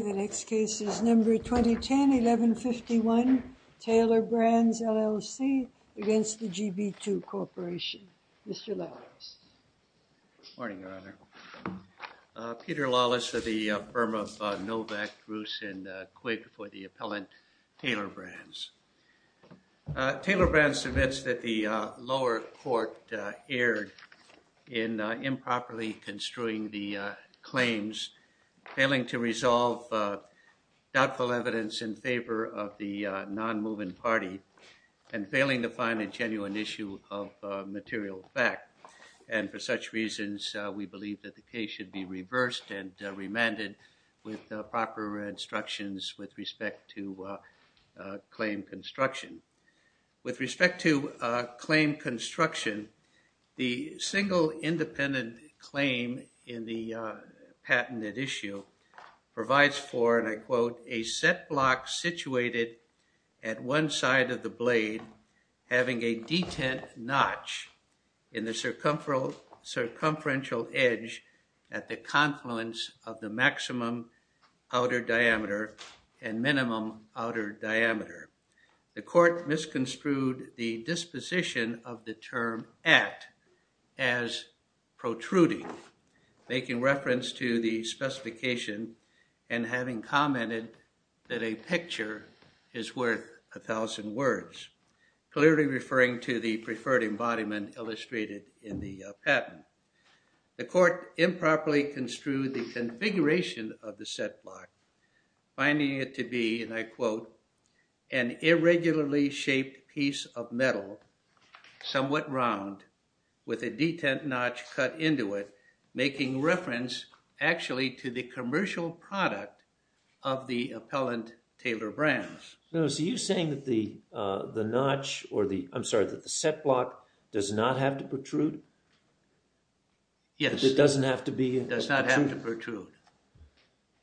The next case is number 2010, 1151, Taylor Brands, LLC, against the GB2 Corporation. Mr. Lawless. Good morning, Your Honor. Peter Lawless of the firm of Novak, Roos, and Quigg for the appellant Taylor Brands. Taylor Brands admits that the lower court erred in improperly construing the claims, failing to resolve doubtful evidence in favor of the non-moving party, and failing to find a genuine issue of material fact. And for such reasons, we believe that the case should be reversed and remanded with proper instructions with respect to claim construction. With respect to claim construction, the single independent claim in the patented issue provides for, and I quote, a set block situated at one side of the blade having a detent notch in the circumferential edge at the confluence of the maximum outer diameter and minimum outer diameter. The court misconstrued the disposition of the term at as protruding, making reference to the specification and having commented that a picture is worth a thousand words, clearly referring to the preferred embodiment illustrated in the patent. The court improperly construed the configuration of the set block, finding it to be, and I quote, an irregularly shaped piece of metal, somewhat round, with a detent notch cut into it, making reference actually to the commercial product of the appellant Taylor Brands. Now, so you're saying that the notch, or the, I'm sorry, that the set block does not have to protrude? Yes. It doesn't have to be? It does not have to protrude.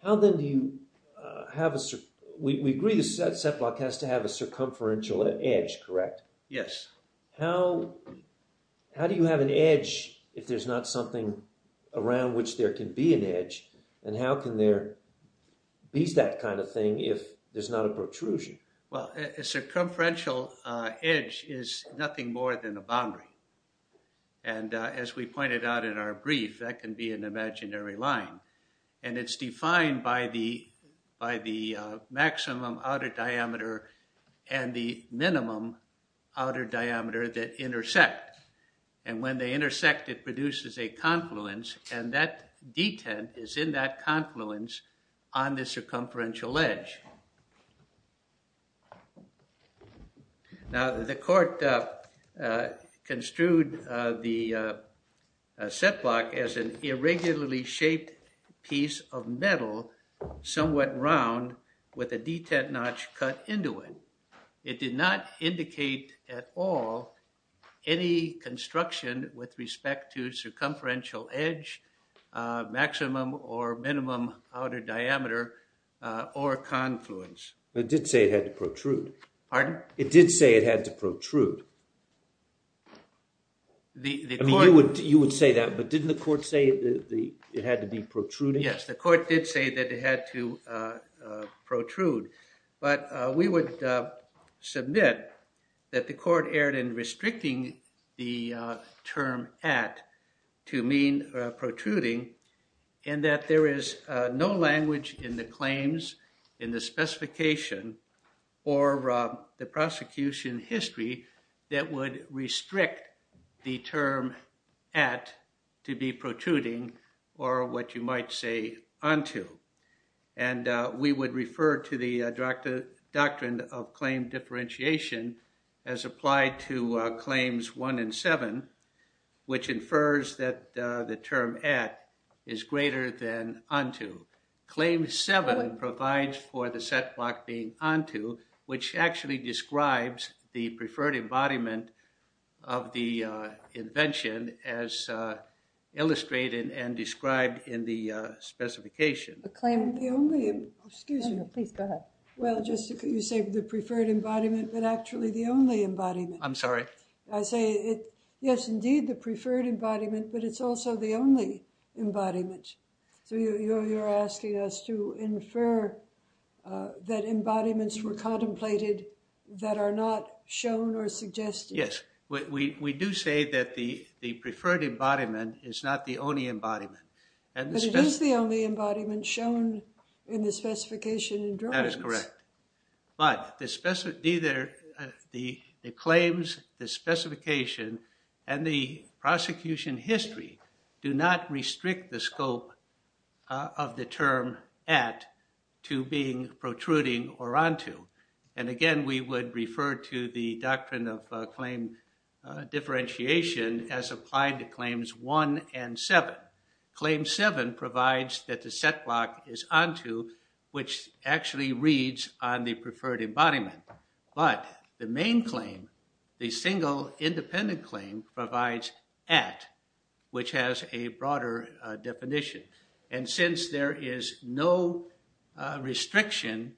How then do you have a, we agree the set block has to have a circumferential edge, correct? Yes. How do you have an edge if there's not something around which there can be an edge? And how can there be that kind of thing if there's not a protrusion? Well, a circumferential edge is nothing more than a boundary. And as we pointed out in our brief, that can be an imaginary line. And it's defined by the maximum outer diameter and the minimum outer diameter that intersect. And when they intersect, it produces a confluence, and that detent is in that confluence on the circumferential edge. Now, the court construed the set block as an irregularly shaped piece of metal, somewhat round with a detent notch cut into it. It did not indicate at all any construction with respect to circumferential edge, maximum or minimum outer diameter, or confluence. It did say it had to protrude. Pardon? It did say it had to protrude. I mean, you would say that, but didn't the court say it had to be protruding? Yes, the court did say that it had to protrude. But we would submit that the court erred in restricting the term at to mean protruding, and that there is no language in the claims, in the specification, or the prosecution history that would restrict the term at to be protruding, or what you might say onto. And we would refer to the doctrine of claim differentiation as applied to claims one and seven, which infers that the term at is greater than onto. Claim seven provides for the set block being onto, which actually describes the preferred embodiment of the invention as illustrated and described in the specification. The claim of the only, excuse me. Please, go ahead. Well, you say the preferred embodiment, but actually the only embodiment. I'm sorry? I say, yes, indeed, the preferred embodiment, but it's also the only embodiment. So you're asking us to infer that embodiments were contemplated that are not shown or suggested. Yes. We do say that the preferred embodiment is not the only embodiment. But it is the only embodiment shown in the specification and drawings. That is correct. But the claims, the specification, and the prosecution history do not restrict the scope of the term at to being protruding or onto. And again, we would refer to the doctrine of claim differentiation as applied to claims one and seven. Claim seven provides that the set block is onto, which actually reads on the preferred embodiment. But the main claim, the single independent claim, provides at, which has a broader definition. And since there is no restriction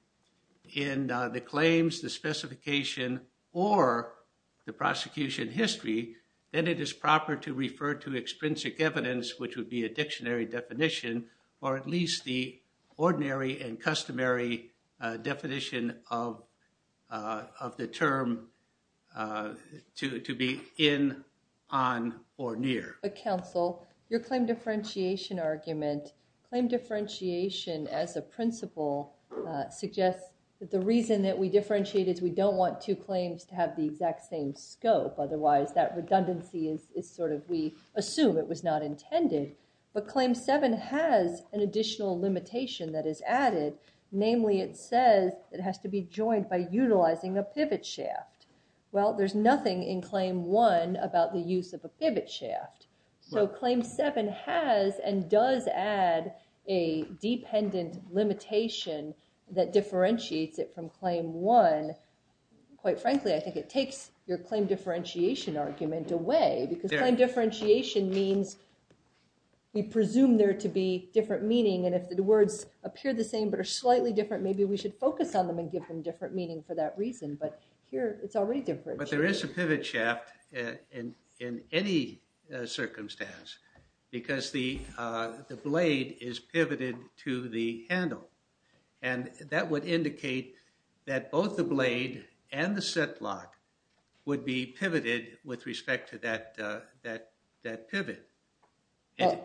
in the claims, the specification, or the prosecution history, then it is proper to refer to extrinsic evidence, which would be a dictionary definition, or at least the ordinary and customary definition of the term to be in, on, or near. But counsel, your claim differentiation argument, claim differentiation as a principle suggests that the reason that we differentiate is we don't want two claims to have the exact same scope. Otherwise, that redundancy is sort of, we assume it was not intended. But claim seven has an additional limitation that is added. Namely, it says it has to be joined by utilizing a pivot shaft. Well, there's nothing in claim one about the use of a pivot shaft. So claim seven has and does add a dependent limitation that differentiates it from claim one. Quite frankly, I think it takes your claim differentiation argument away. Because claim differentiation means we presume there to be different meaning. And if the words appear the same but are slightly different, maybe we should focus on them and give them different meaning for that reason. But there is a pivot shaft in any circumstance because the blade is pivoted to the handle. And that would indicate that both the blade and the set block would be pivoted with respect to that pivot. And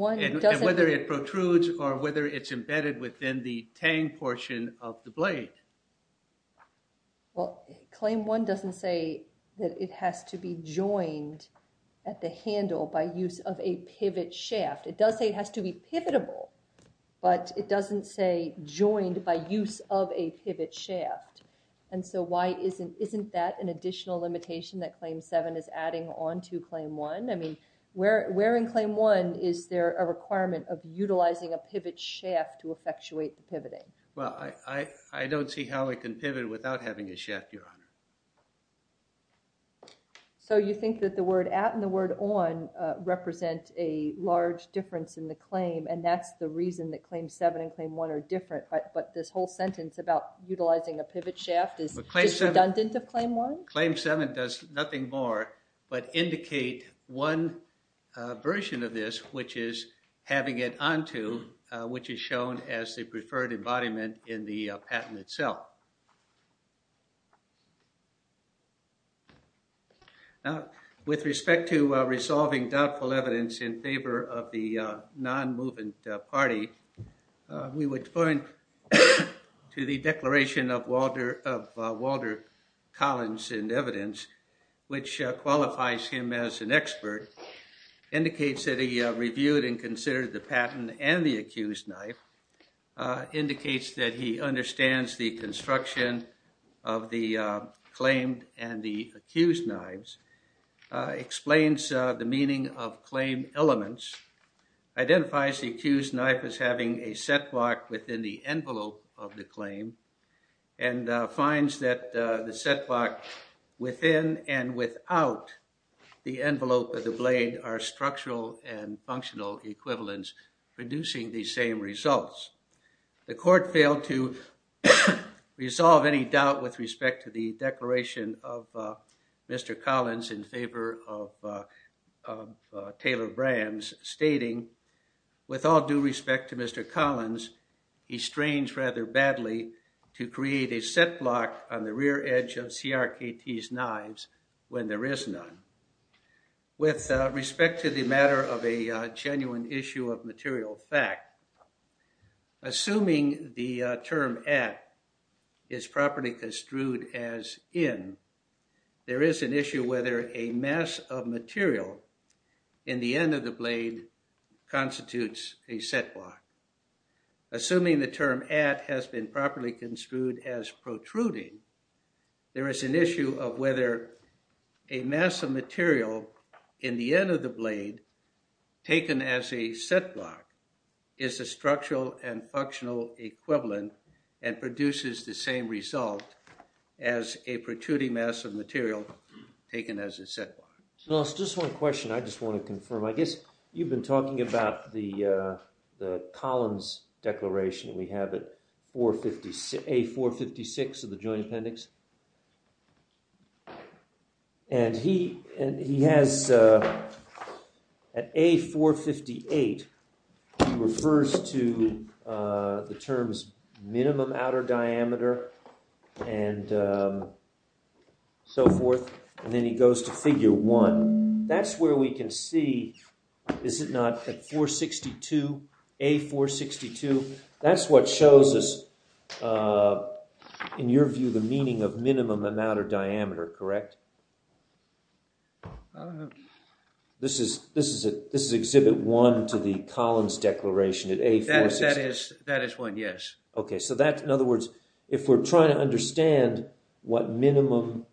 whether it protrudes or whether it's embedded within the tang portion of the blade. Well, claim one doesn't say that it has to be joined at the handle by use of a pivot shaft. It does say it has to be pivotable. But it doesn't say joined by use of a pivot shaft. And so why isn't that an additional limitation that claim seven is adding on to claim one? I mean, where in claim one is there a requirement of utilizing a pivot shaft to effectuate the pivoting? Well, I don't see how it can pivot without having a shaft, Your Honor. So you think that the word at and the word on represent a large difference in the claim and that's the reason that claim seven and claim one are different. But this whole sentence about utilizing a pivot shaft is redundant of claim one? Claim seven does nothing more but indicate one version of this, which is having it onto, which is shown as the preferred embodiment in the patent itself. Now, with respect to resolving doubtful evidence in favor of the non-movement party, we would point to the declaration of Walter Collins in evidence, which qualifies him as an expert, indicates that he reviewed and considered the patent and the accused knife, indicates that he understands the construction of the claimed and the accused knives, explains the meaning of claim elements, identifies the accused knife as having a set block within the envelope of the claim, and finds that the set block within and without the envelope of the blade are structural and functional equivalents producing the same results. The court failed to resolve any doubt with respect to the declaration of Mr. Collins in favor of Taylor Brams, stating, With all due respect to Mr. Collins, he strains rather badly to create a set block on the rear edge of CRKT's knives when there is none. With respect to the matter of a genuine issue of material fact, assuming the term at is properly construed as in, there is an issue whether a mass of material in the end of the blade constitutes a set block. Assuming the term at has been properly construed as protruding, there is an issue of whether a mass of material in the end of the blade taken as a set block is a structural and functional equivalent and produces the same result as a protruding mass of material taken as a set block. Just one question I just want to confirm. I guess you've been talking about the Collins declaration we have at A456 of the Joint Appendix. And he has, at A458, he refers to the terms minimum outer diameter and so forth, and then he goes to Figure 1. That's where we can see, is it not, at 462, A462, that's what shows us, in your view, the meaning of minimum and outer diameter, correct? This is Exhibit 1 to the Collins declaration at A462. That is one, yes. Okay, so that, in other words, if we're trying to understand what minimum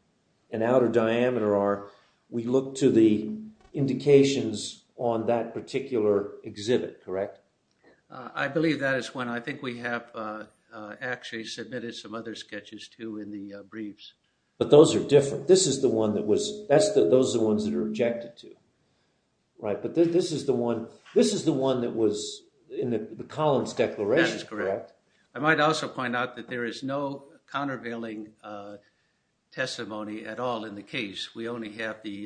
and outer diameter are, we look to the indications on that particular exhibit, correct? I believe that is one. I think we have actually submitted some other sketches, too, in the briefs. But those are different. This is the one that was, those are the ones that are rejected, too, right? But this is the one that was in the Collins declaration, correct? That is correct. I might also point out that there is no countervailing testimony at all in the case. We only have the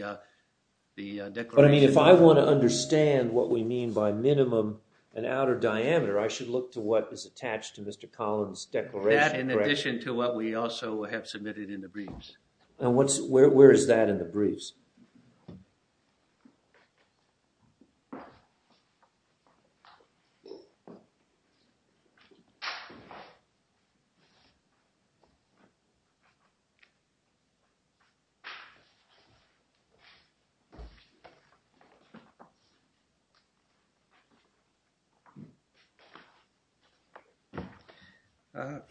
declaration. But, I mean, if I want to understand what we mean by minimum and outer diameter, I should look to what is attached to Mr. Collins' declaration, correct? That, in addition to what we also have submitted in the briefs. And where is that in the briefs? Okay.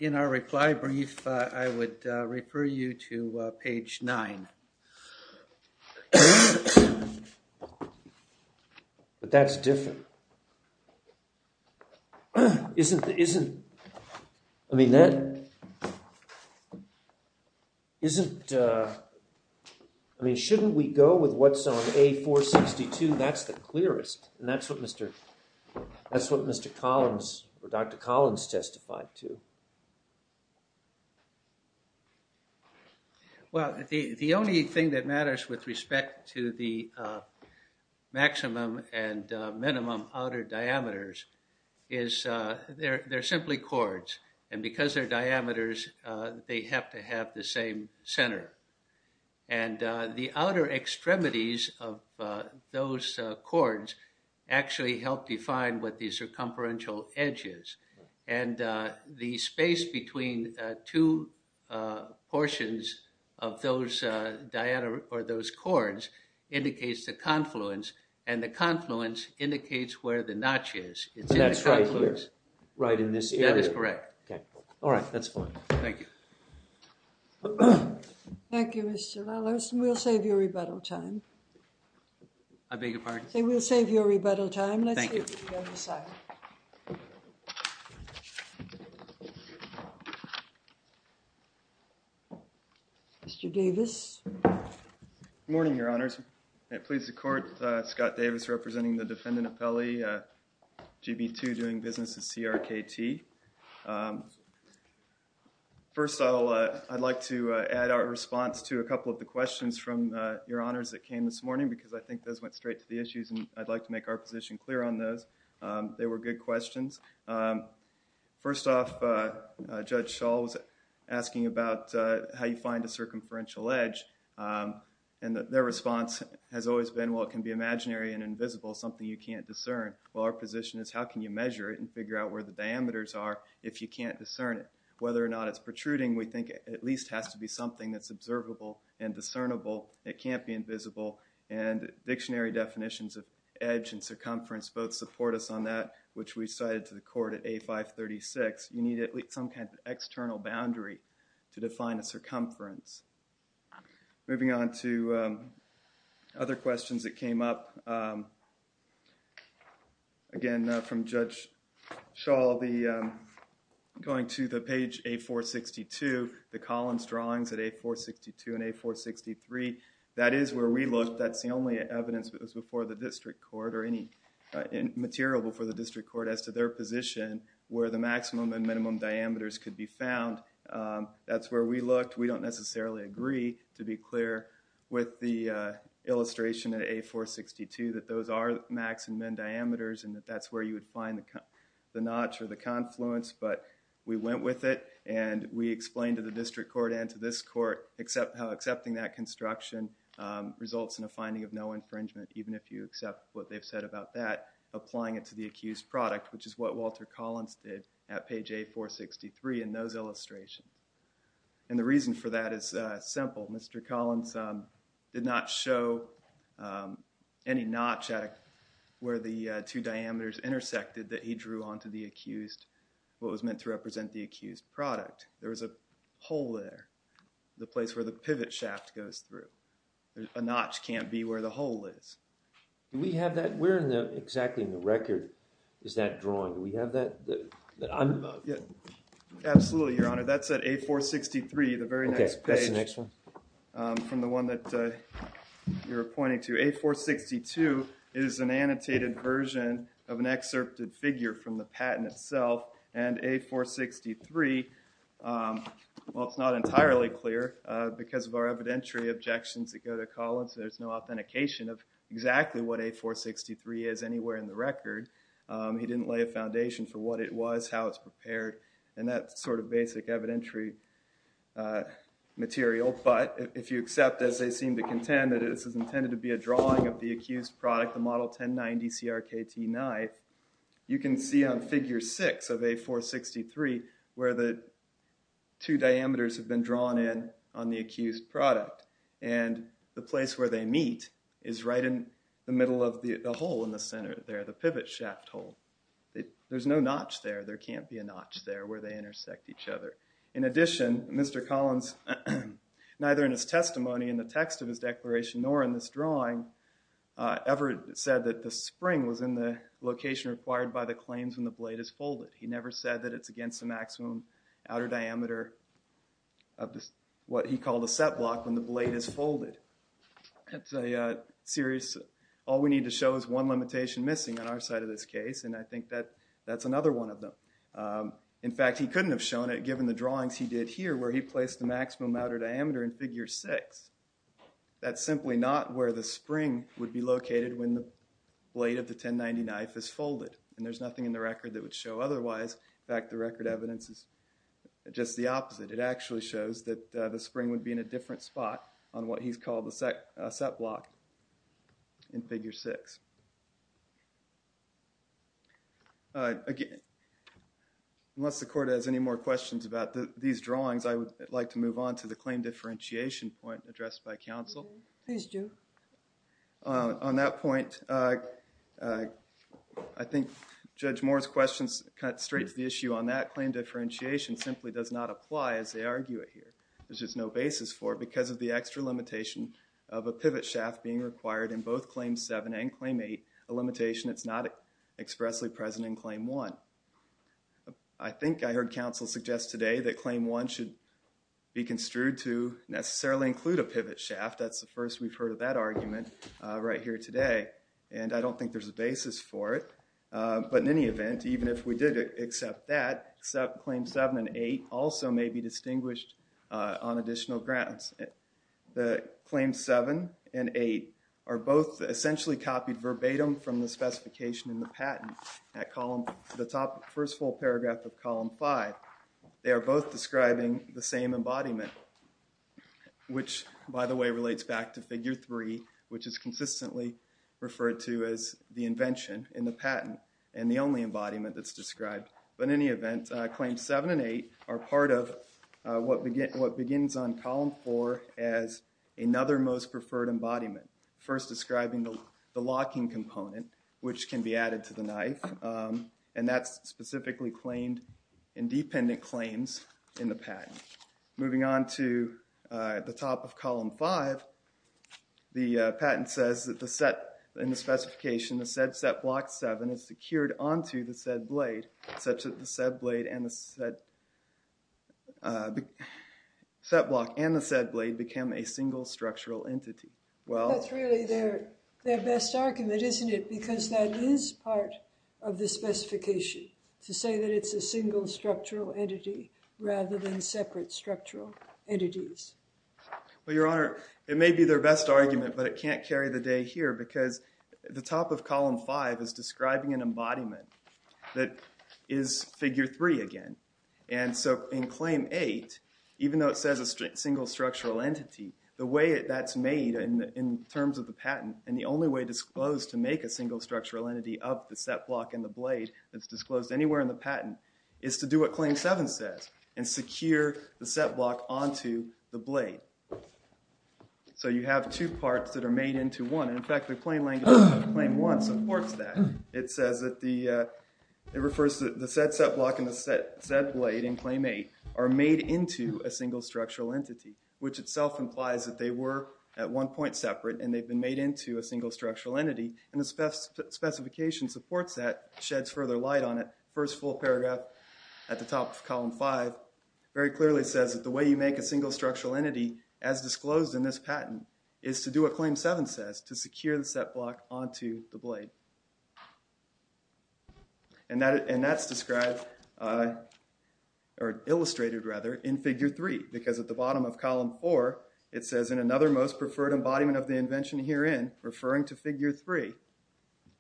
In our reply brief, I would refer you to page 9. But that's different. Isn't, I mean, that, isn't, I mean, shouldn't we go with what's on A462? That's the clearest. And that's what Mr., that's what Mr. Collins, or Dr. Collins testified to. Well, the only thing that matters with respect to the maximum and minimum outer diameters is they're simply chords. And because they're diameters, they have to have the same center. And the outer extremities of those chords actually help define what the circumferential edge is. And the space between two portions of those diameter, or those chords, indicates the confluence. And the confluence indicates where the notch is. It's in the confluence. That's right here. Right in this area. That is correct. Okay. All right. That's fine. Thank you. Thank you, Mr. Lellerson. We'll save you rebuttal time. I beg your pardon? We'll save you rebuttal time. Thank you. We'll save you rebuttal time. Mr. Davis. Good morning, Your Honors. It pleases the court, Scott Davis representing the defendant appellee, GB2, doing business with CRKT. First, I'll, I'd like to add our response to a couple of the questions from Your Honors that came this morning because I think those went straight to the issues, and I'd like to make our position clear on those. They were good questions. First off, Judge Schall was asking about how you find a circumferential edge. And their response has always been, well, it can be imaginary and invisible, something you can't discern. Well, our position is, how can you measure it and figure out where the diameters are if you can't discern it? Whether or not it's protruding, we think it at least has to be something that's observable and discernible. It can't be invisible, and dictionary definitions of edge and circumference both support us on that, which we cited to the court at A536. You need at least some kind of external boundary to define a circumference. Moving on to other questions that came up. Again, from Judge Schall, the, going to the page A462, the Collins drawings at A462 and A463, that is where we looked. That's the only evidence that was before the district court or any material before the district court as to their position where the maximum and minimum diameters could be found. That's where we looked. We don't necessarily agree, to be clear, with the illustration at A462 that those are max and min diameters and that that's where you would find the notch or the confluence, but we went with it and we explained to the district court and to this court how accepting that construction results in a finding of no infringement, even if you accept what they've said about that, applying it to the accused product, which is what Walter Collins did at page A463 in those illustrations. And the reason for that is simple. Mr. Collins did not show any notch where the two diameters intersected that he drew onto the accused, what was meant to represent the accused product. There was a hole there, the place where the pivot shaft goes through. A notch can't be where the hole is. Do we have that? Where exactly in the record is that drawing? Do we have that? Absolutely, Your Honor. That's at A463, the very next page from the one that you're pointing to. A462 is an annotated version of an excerpted figure from the patent itself, and A463, well, it's not entirely clear because of our evidentiary objections that go to Collins. There's no authentication of exactly what A463 is anywhere in the record. He didn't lay a foundation for what it was, how it's prepared, and that sort of basic evidentiary material. But if you accept, as they seem to contend, that this is intended to be a drawing of the accused product, the Model 1090 CRKT-9, you can see on Figure 6 of A463 where the two diameters have been drawn in on the accused product. And the place where they meet is right in the middle of the hole in the center there, the pivot shaft hole. There's no notch there. There can't be a notch there where they intersect each other. In addition, Mr. Collins, neither in his testimony in the text of his declaration nor in this drawing, ever said that the spring was in the location required by the claims when the blade is folded. He never said that it's against the maximum outer diameter of what he called a set block when the blade is folded. That's a serious – all we need to show is one limitation missing on our side of this case, and I think that that's another one of them. In fact, he couldn't have shown it given the drawings he did here where he placed the maximum outer diameter in Figure 6. That's simply not where the spring would be located when the blade of the 1090 knife is folded, and there's nothing in the record that would show otherwise. In fact, the record evidence is just the opposite. It actually shows that the spring would be in a different spot on what he's called a set block in Figure 6. Again, unless the Court has any more questions about these drawings, I would like to move on to the claim differentiation point addressed by counsel. Please do. On that point, I think Judge Moore's questions cut straight to the issue on that claim differentiation simply does not apply as they argue it here. There's just no basis for it because of the extra limitation of a pivot shaft being required in both Claim 7 and Claim 8, a limitation that's not expressly present in Claim 1. I think I heard counsel suggest today that Claim 1 should be construed to necessarily include a pivot shaft. That's the first we've heard of that argument right here today, and I don't think there's a basis for it. But in any event, even if we did accept that, Claim 7 and 8 also may be distinguished on additional grounds. Claim 7 and 8 are both essentially copied verbatim from the specification in the patent. At the top of the first full paragraph of Column 5, they are both describing the same embodiment, which, by the way, relates back to Figure 3, which is consistently referred to as the invention in the patent and the only embodiment that's described. But in any event, Claims 7 and 8 are part of what begins on Column 4 as another most preferred embodiment, first describing the locking component, which can be added to the knife, and that's specifically claimed in dependent claims in the patent. Moving on to the top of Column 5, the patent says that in the specification, the said set block 7 is secured onto the said blade, such that the set block and the said blade become a single structural entity. Well, that's really their best argument, isn't it? Because that is part of the specification, to say that it's a single structural entity rather than separate structural entities. Well, Your Honor, it may be their best argument, but it can't carry the day here because the top of Column 5 is describing an embodiment that is Figure 3 again. And so in Claim 8, even though it says a single structural entity, the way that's made in terms of the patent and the only way disclosed to make a single structural entity of the set block and the blade that's disclosed anywhere in the patent is to do what Claim 7 says and secure the set block onto the blade. So you have two parts that are made into one. In fact, the claim language of Claim 1 supports that. It says that the said set block and the said blade in Claim 8 are made into a single structural entity, which itself implies that they were at one point separate and they've been made into a single structural entity. And the specification supports that, sheds further light on it. First full paragraph at the top of Column 5 very clearly says that the way you make a single structural entity as disclosed in this patent is to do what Claim 7 says, to secure the set block onto the blade. And that's described or illustrated, rather, in Figure 3 because at the bottom of Column 4 it says, in another most preferred embodiment of the invention herein, referring to Figure 3.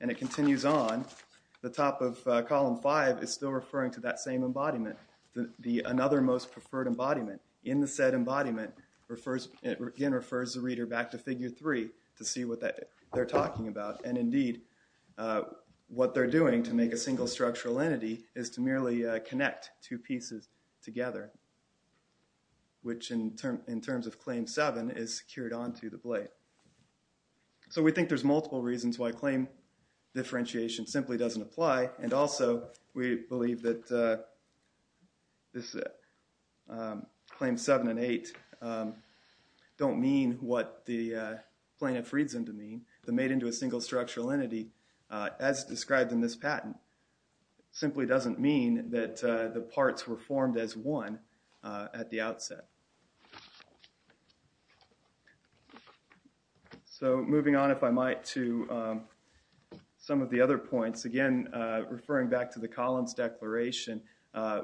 And it continues on. The top of Column 5 is still referring to that same embodiment, the another most preferred embodiment. In the said embodiment, it again refers the reader back to Figure 3 to see what they're talking about. And indeed, what they're doing to make a single structural entity is to merely connect two pieces together, which in terms of Claim 7 is secured onto the blade. So we think there's multiple reasons why claim differentiation simply doesn't apply. And also, we believe that Claim 7 and 8 don't mean what the plaintiff reads them to mean. The made into a single structural entity, as described in this patent, simply doesn't mean that the parts were formed as one at the outset. So moving on, if I might, to some of the other points. Again, referring back to the Collins Declaration,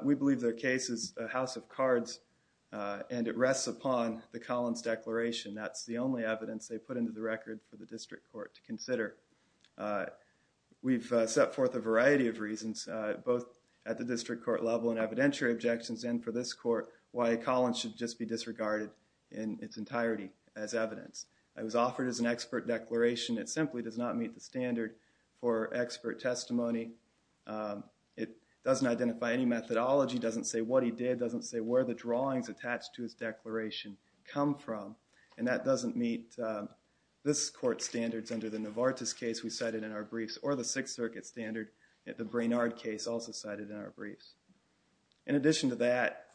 we believe their case is a house of cards and it rests upon the Collins Declaration. That's the only evidence they put into the record for the district court to consider. We've set forth a variety of reasons, both at the district court level and evidentiary objections, and for this court, why Collins should just be disregarded in its entirety as evidence. It was offered as an expert declaration. It simply does not meet the standard for expert testimony. It doesn't identify any methodology, doesn't say what he did, doesn't say where the drawings attached to his declaration come from, and that doesn't meet this court's standards under the Novartis case we cited in our briefs, or the Sixth Circuit standard, the Brainard case also cited in our briefs. In addition to that,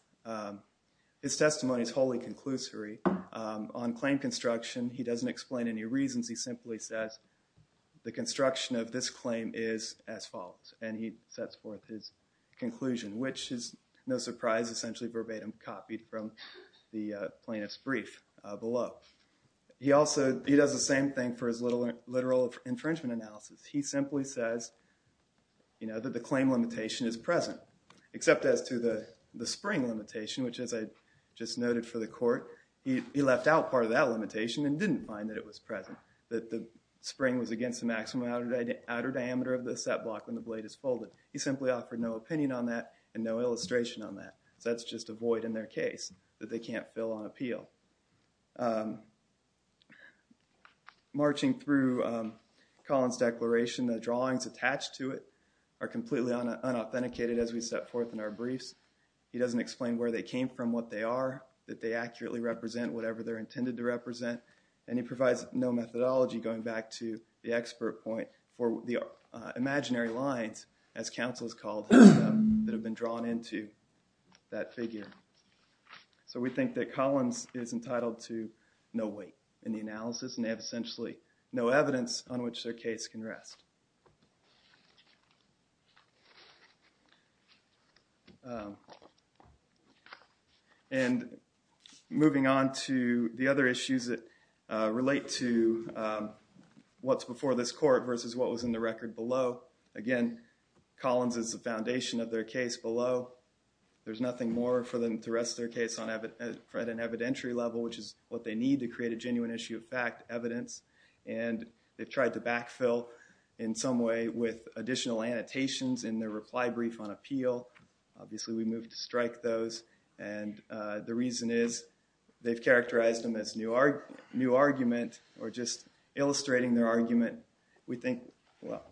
his testimony is wholly conclusory. On claim construction, he doesn't explain any reasons. He simply says the construction of this claim is as follows, and he sets forth his conclusion, which is no surprise, essentially verbatim copied from the plaintiff's brief below. He does the same thing for his literal infringement analysis. He simply says that the claim limitation is present, except as to the spring limitation, which as I just noted for the court, he left out part of that limitation and didn't find that it was present, that the spring was against the maximum outer diameter of the set block when the blade is folded. He simply offered no opinion on that and no illustration on that. So that's just a void in their case that they can't fill on appeal. Marching through Collins' declaration, the drawings attached to it are completely unauthenticated as we set forth in our briefs. He doesn't explain where they came from, what they are, that they accurately represent whatever they're intended to represent, and he provides no methodology going back to the expert point for the imaginary lines, as counsel is called, that have been drawn into that figure. So we think that Collins is entitled to no weight in the analysis and they have essentially no evidence on which their case can rest. And moving on to the other issues that relate to what's before this court versus what was in the record below. Again, Collins is the foundation of their case below. There's nothing more for them to rest their case on at an evidentiary level, which is what they need to create a genuine issue of fact, evidence, and they've tried to backfill in some way with additional annotations in their reply brief on appeal. Obviously, we moved to strike those, and the reason is they've characterized them as new argument or just illustrating their argument. We think, well,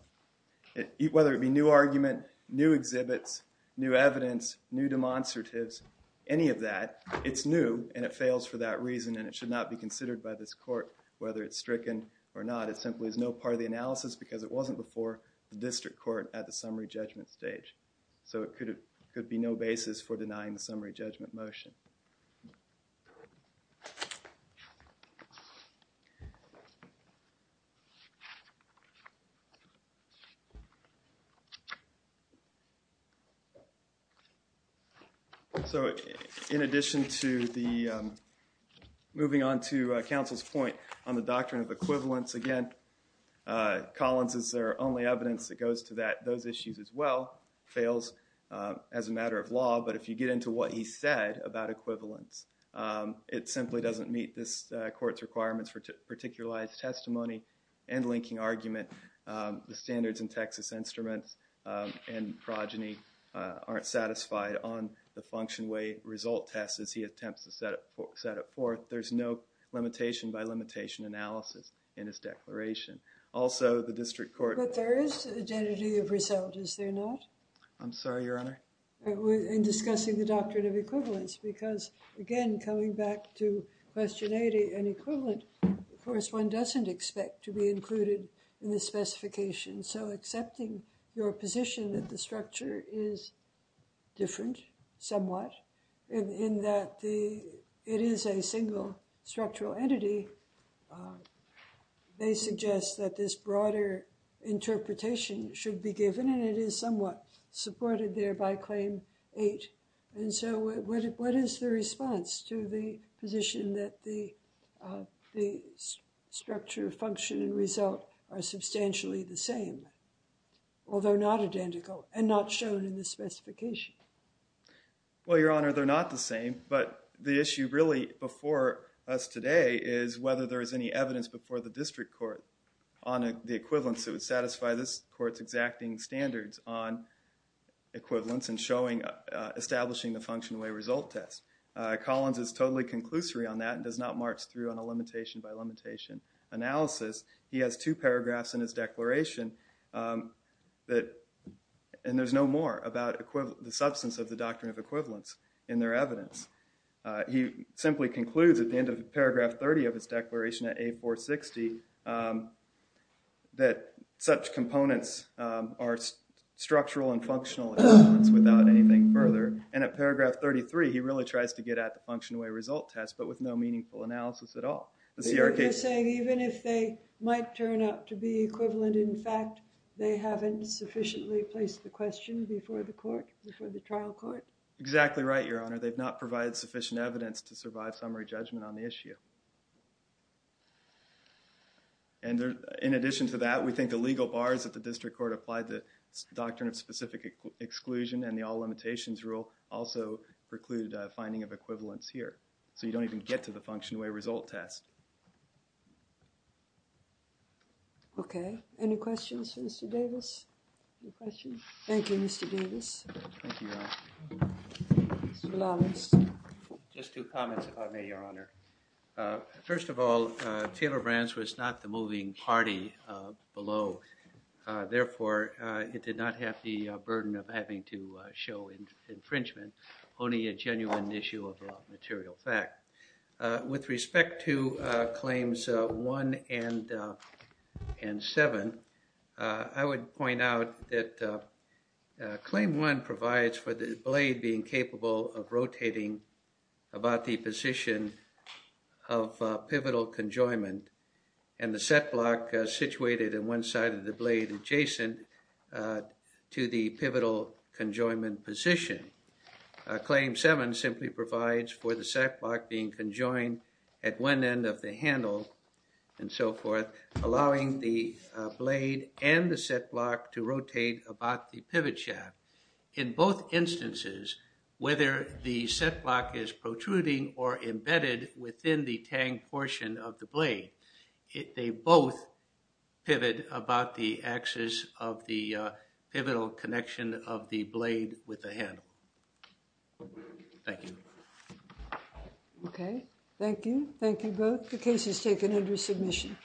whether it be new argument, new exhibits, new evidence, new demonstratives, any of that, it's new and it fails for that reason and it should not be considered by this court whether it's stricken or not. It simply is no part of the analysis because it wasn't before the district court at the summary judgment stage. So it could be no basis for denying the summary judgment motion. So in addition to moving on to counsel's point on the doctrine of equivalence, again, Collins is their only evidence that goes to that. Those issues as well fails as a matter of law, but if you get into what he said about equivalence, it simply doesn't meet this court's requirements for particularized testimony and linking argument. The standards in Texas Instruments and progeny aren't satisfied on the function way result test as he attempts to set it forth. There's no limitation by limitation analysis in his declaration. Also, the district court- But there is identity of result, is there not? I'm sorry, Your Honor? In discussing the doctrine of equivalence because, again, coming back to question 80 and equivalent, of course, one doesn't expect to be included in the specification. So accepting your position that the structure is different somewhat, in that it is a single structural entity, they suggest that this broader interpretation should be given and it is somewhat supported there by Claim 8. And so what is the response to the position that the structure of function and result are substantially the same, although not identical, and not shown in the specification? Well, Your Honor, they're not the same, but the issue really before us today is whether there is any evidence before the district court on the equivalence that would satisfy this exacting standards on equivalence and establishing the functional way result test. Collins is totally conclusory on that and does not march through on a limitation by limitation analysis. He has two paragraphs in his declaration, and there's no more about the substance of the doctrine of equivalence in their evidence. He simply concludes at the end of paragraph 30 of his declaration at 8.460 that such components are structural and functional without anything further. And at paragraph 33, he really tries to get at the functional way result test, but with no meaningful analysis at all. You're saying even if they might turn out to be equivalent, in fact they haven't sufficiently placed the question before the trial court? Exactly right, Your Honor. Thank you. And in addition to that, we think the legal bars that the district court applied the doctrine of specific exclusion and the all limitations rule also precluded finding of equivalence here. So you don't even get to the functional way result test. Okay. Any questions for Mr. Davis? Any questions? Thank you, Mr. Davis. Thank you, Your Honor. Mr. Lalas. Just two comments about me, Your Honor. First of all, Taylor Brands was not the moving party below. Therefore, it did not have the burden of having to show infringement, only a genuine issue of material fact. With respect to Claims 1 and 7, I would point out that Claim 1 provides for the blade being capable of rotating about the position of pivotal conjoinment and the set block situated in one side of the blade adjacent to the pivotal conjoinment position. Claim 7 simply provides for the set block being conjoined at one end of the handle and so forth, allowing the blade and the set block to rotate about the pivot shaft. In both instances, whether the set block is protruding or embedded within the tang portion of the blade, they both pivot about the axis of the pivotal connection of the blade with the handle. Thank you. Okay. Thank you. Thank you both. The case is taken under submission.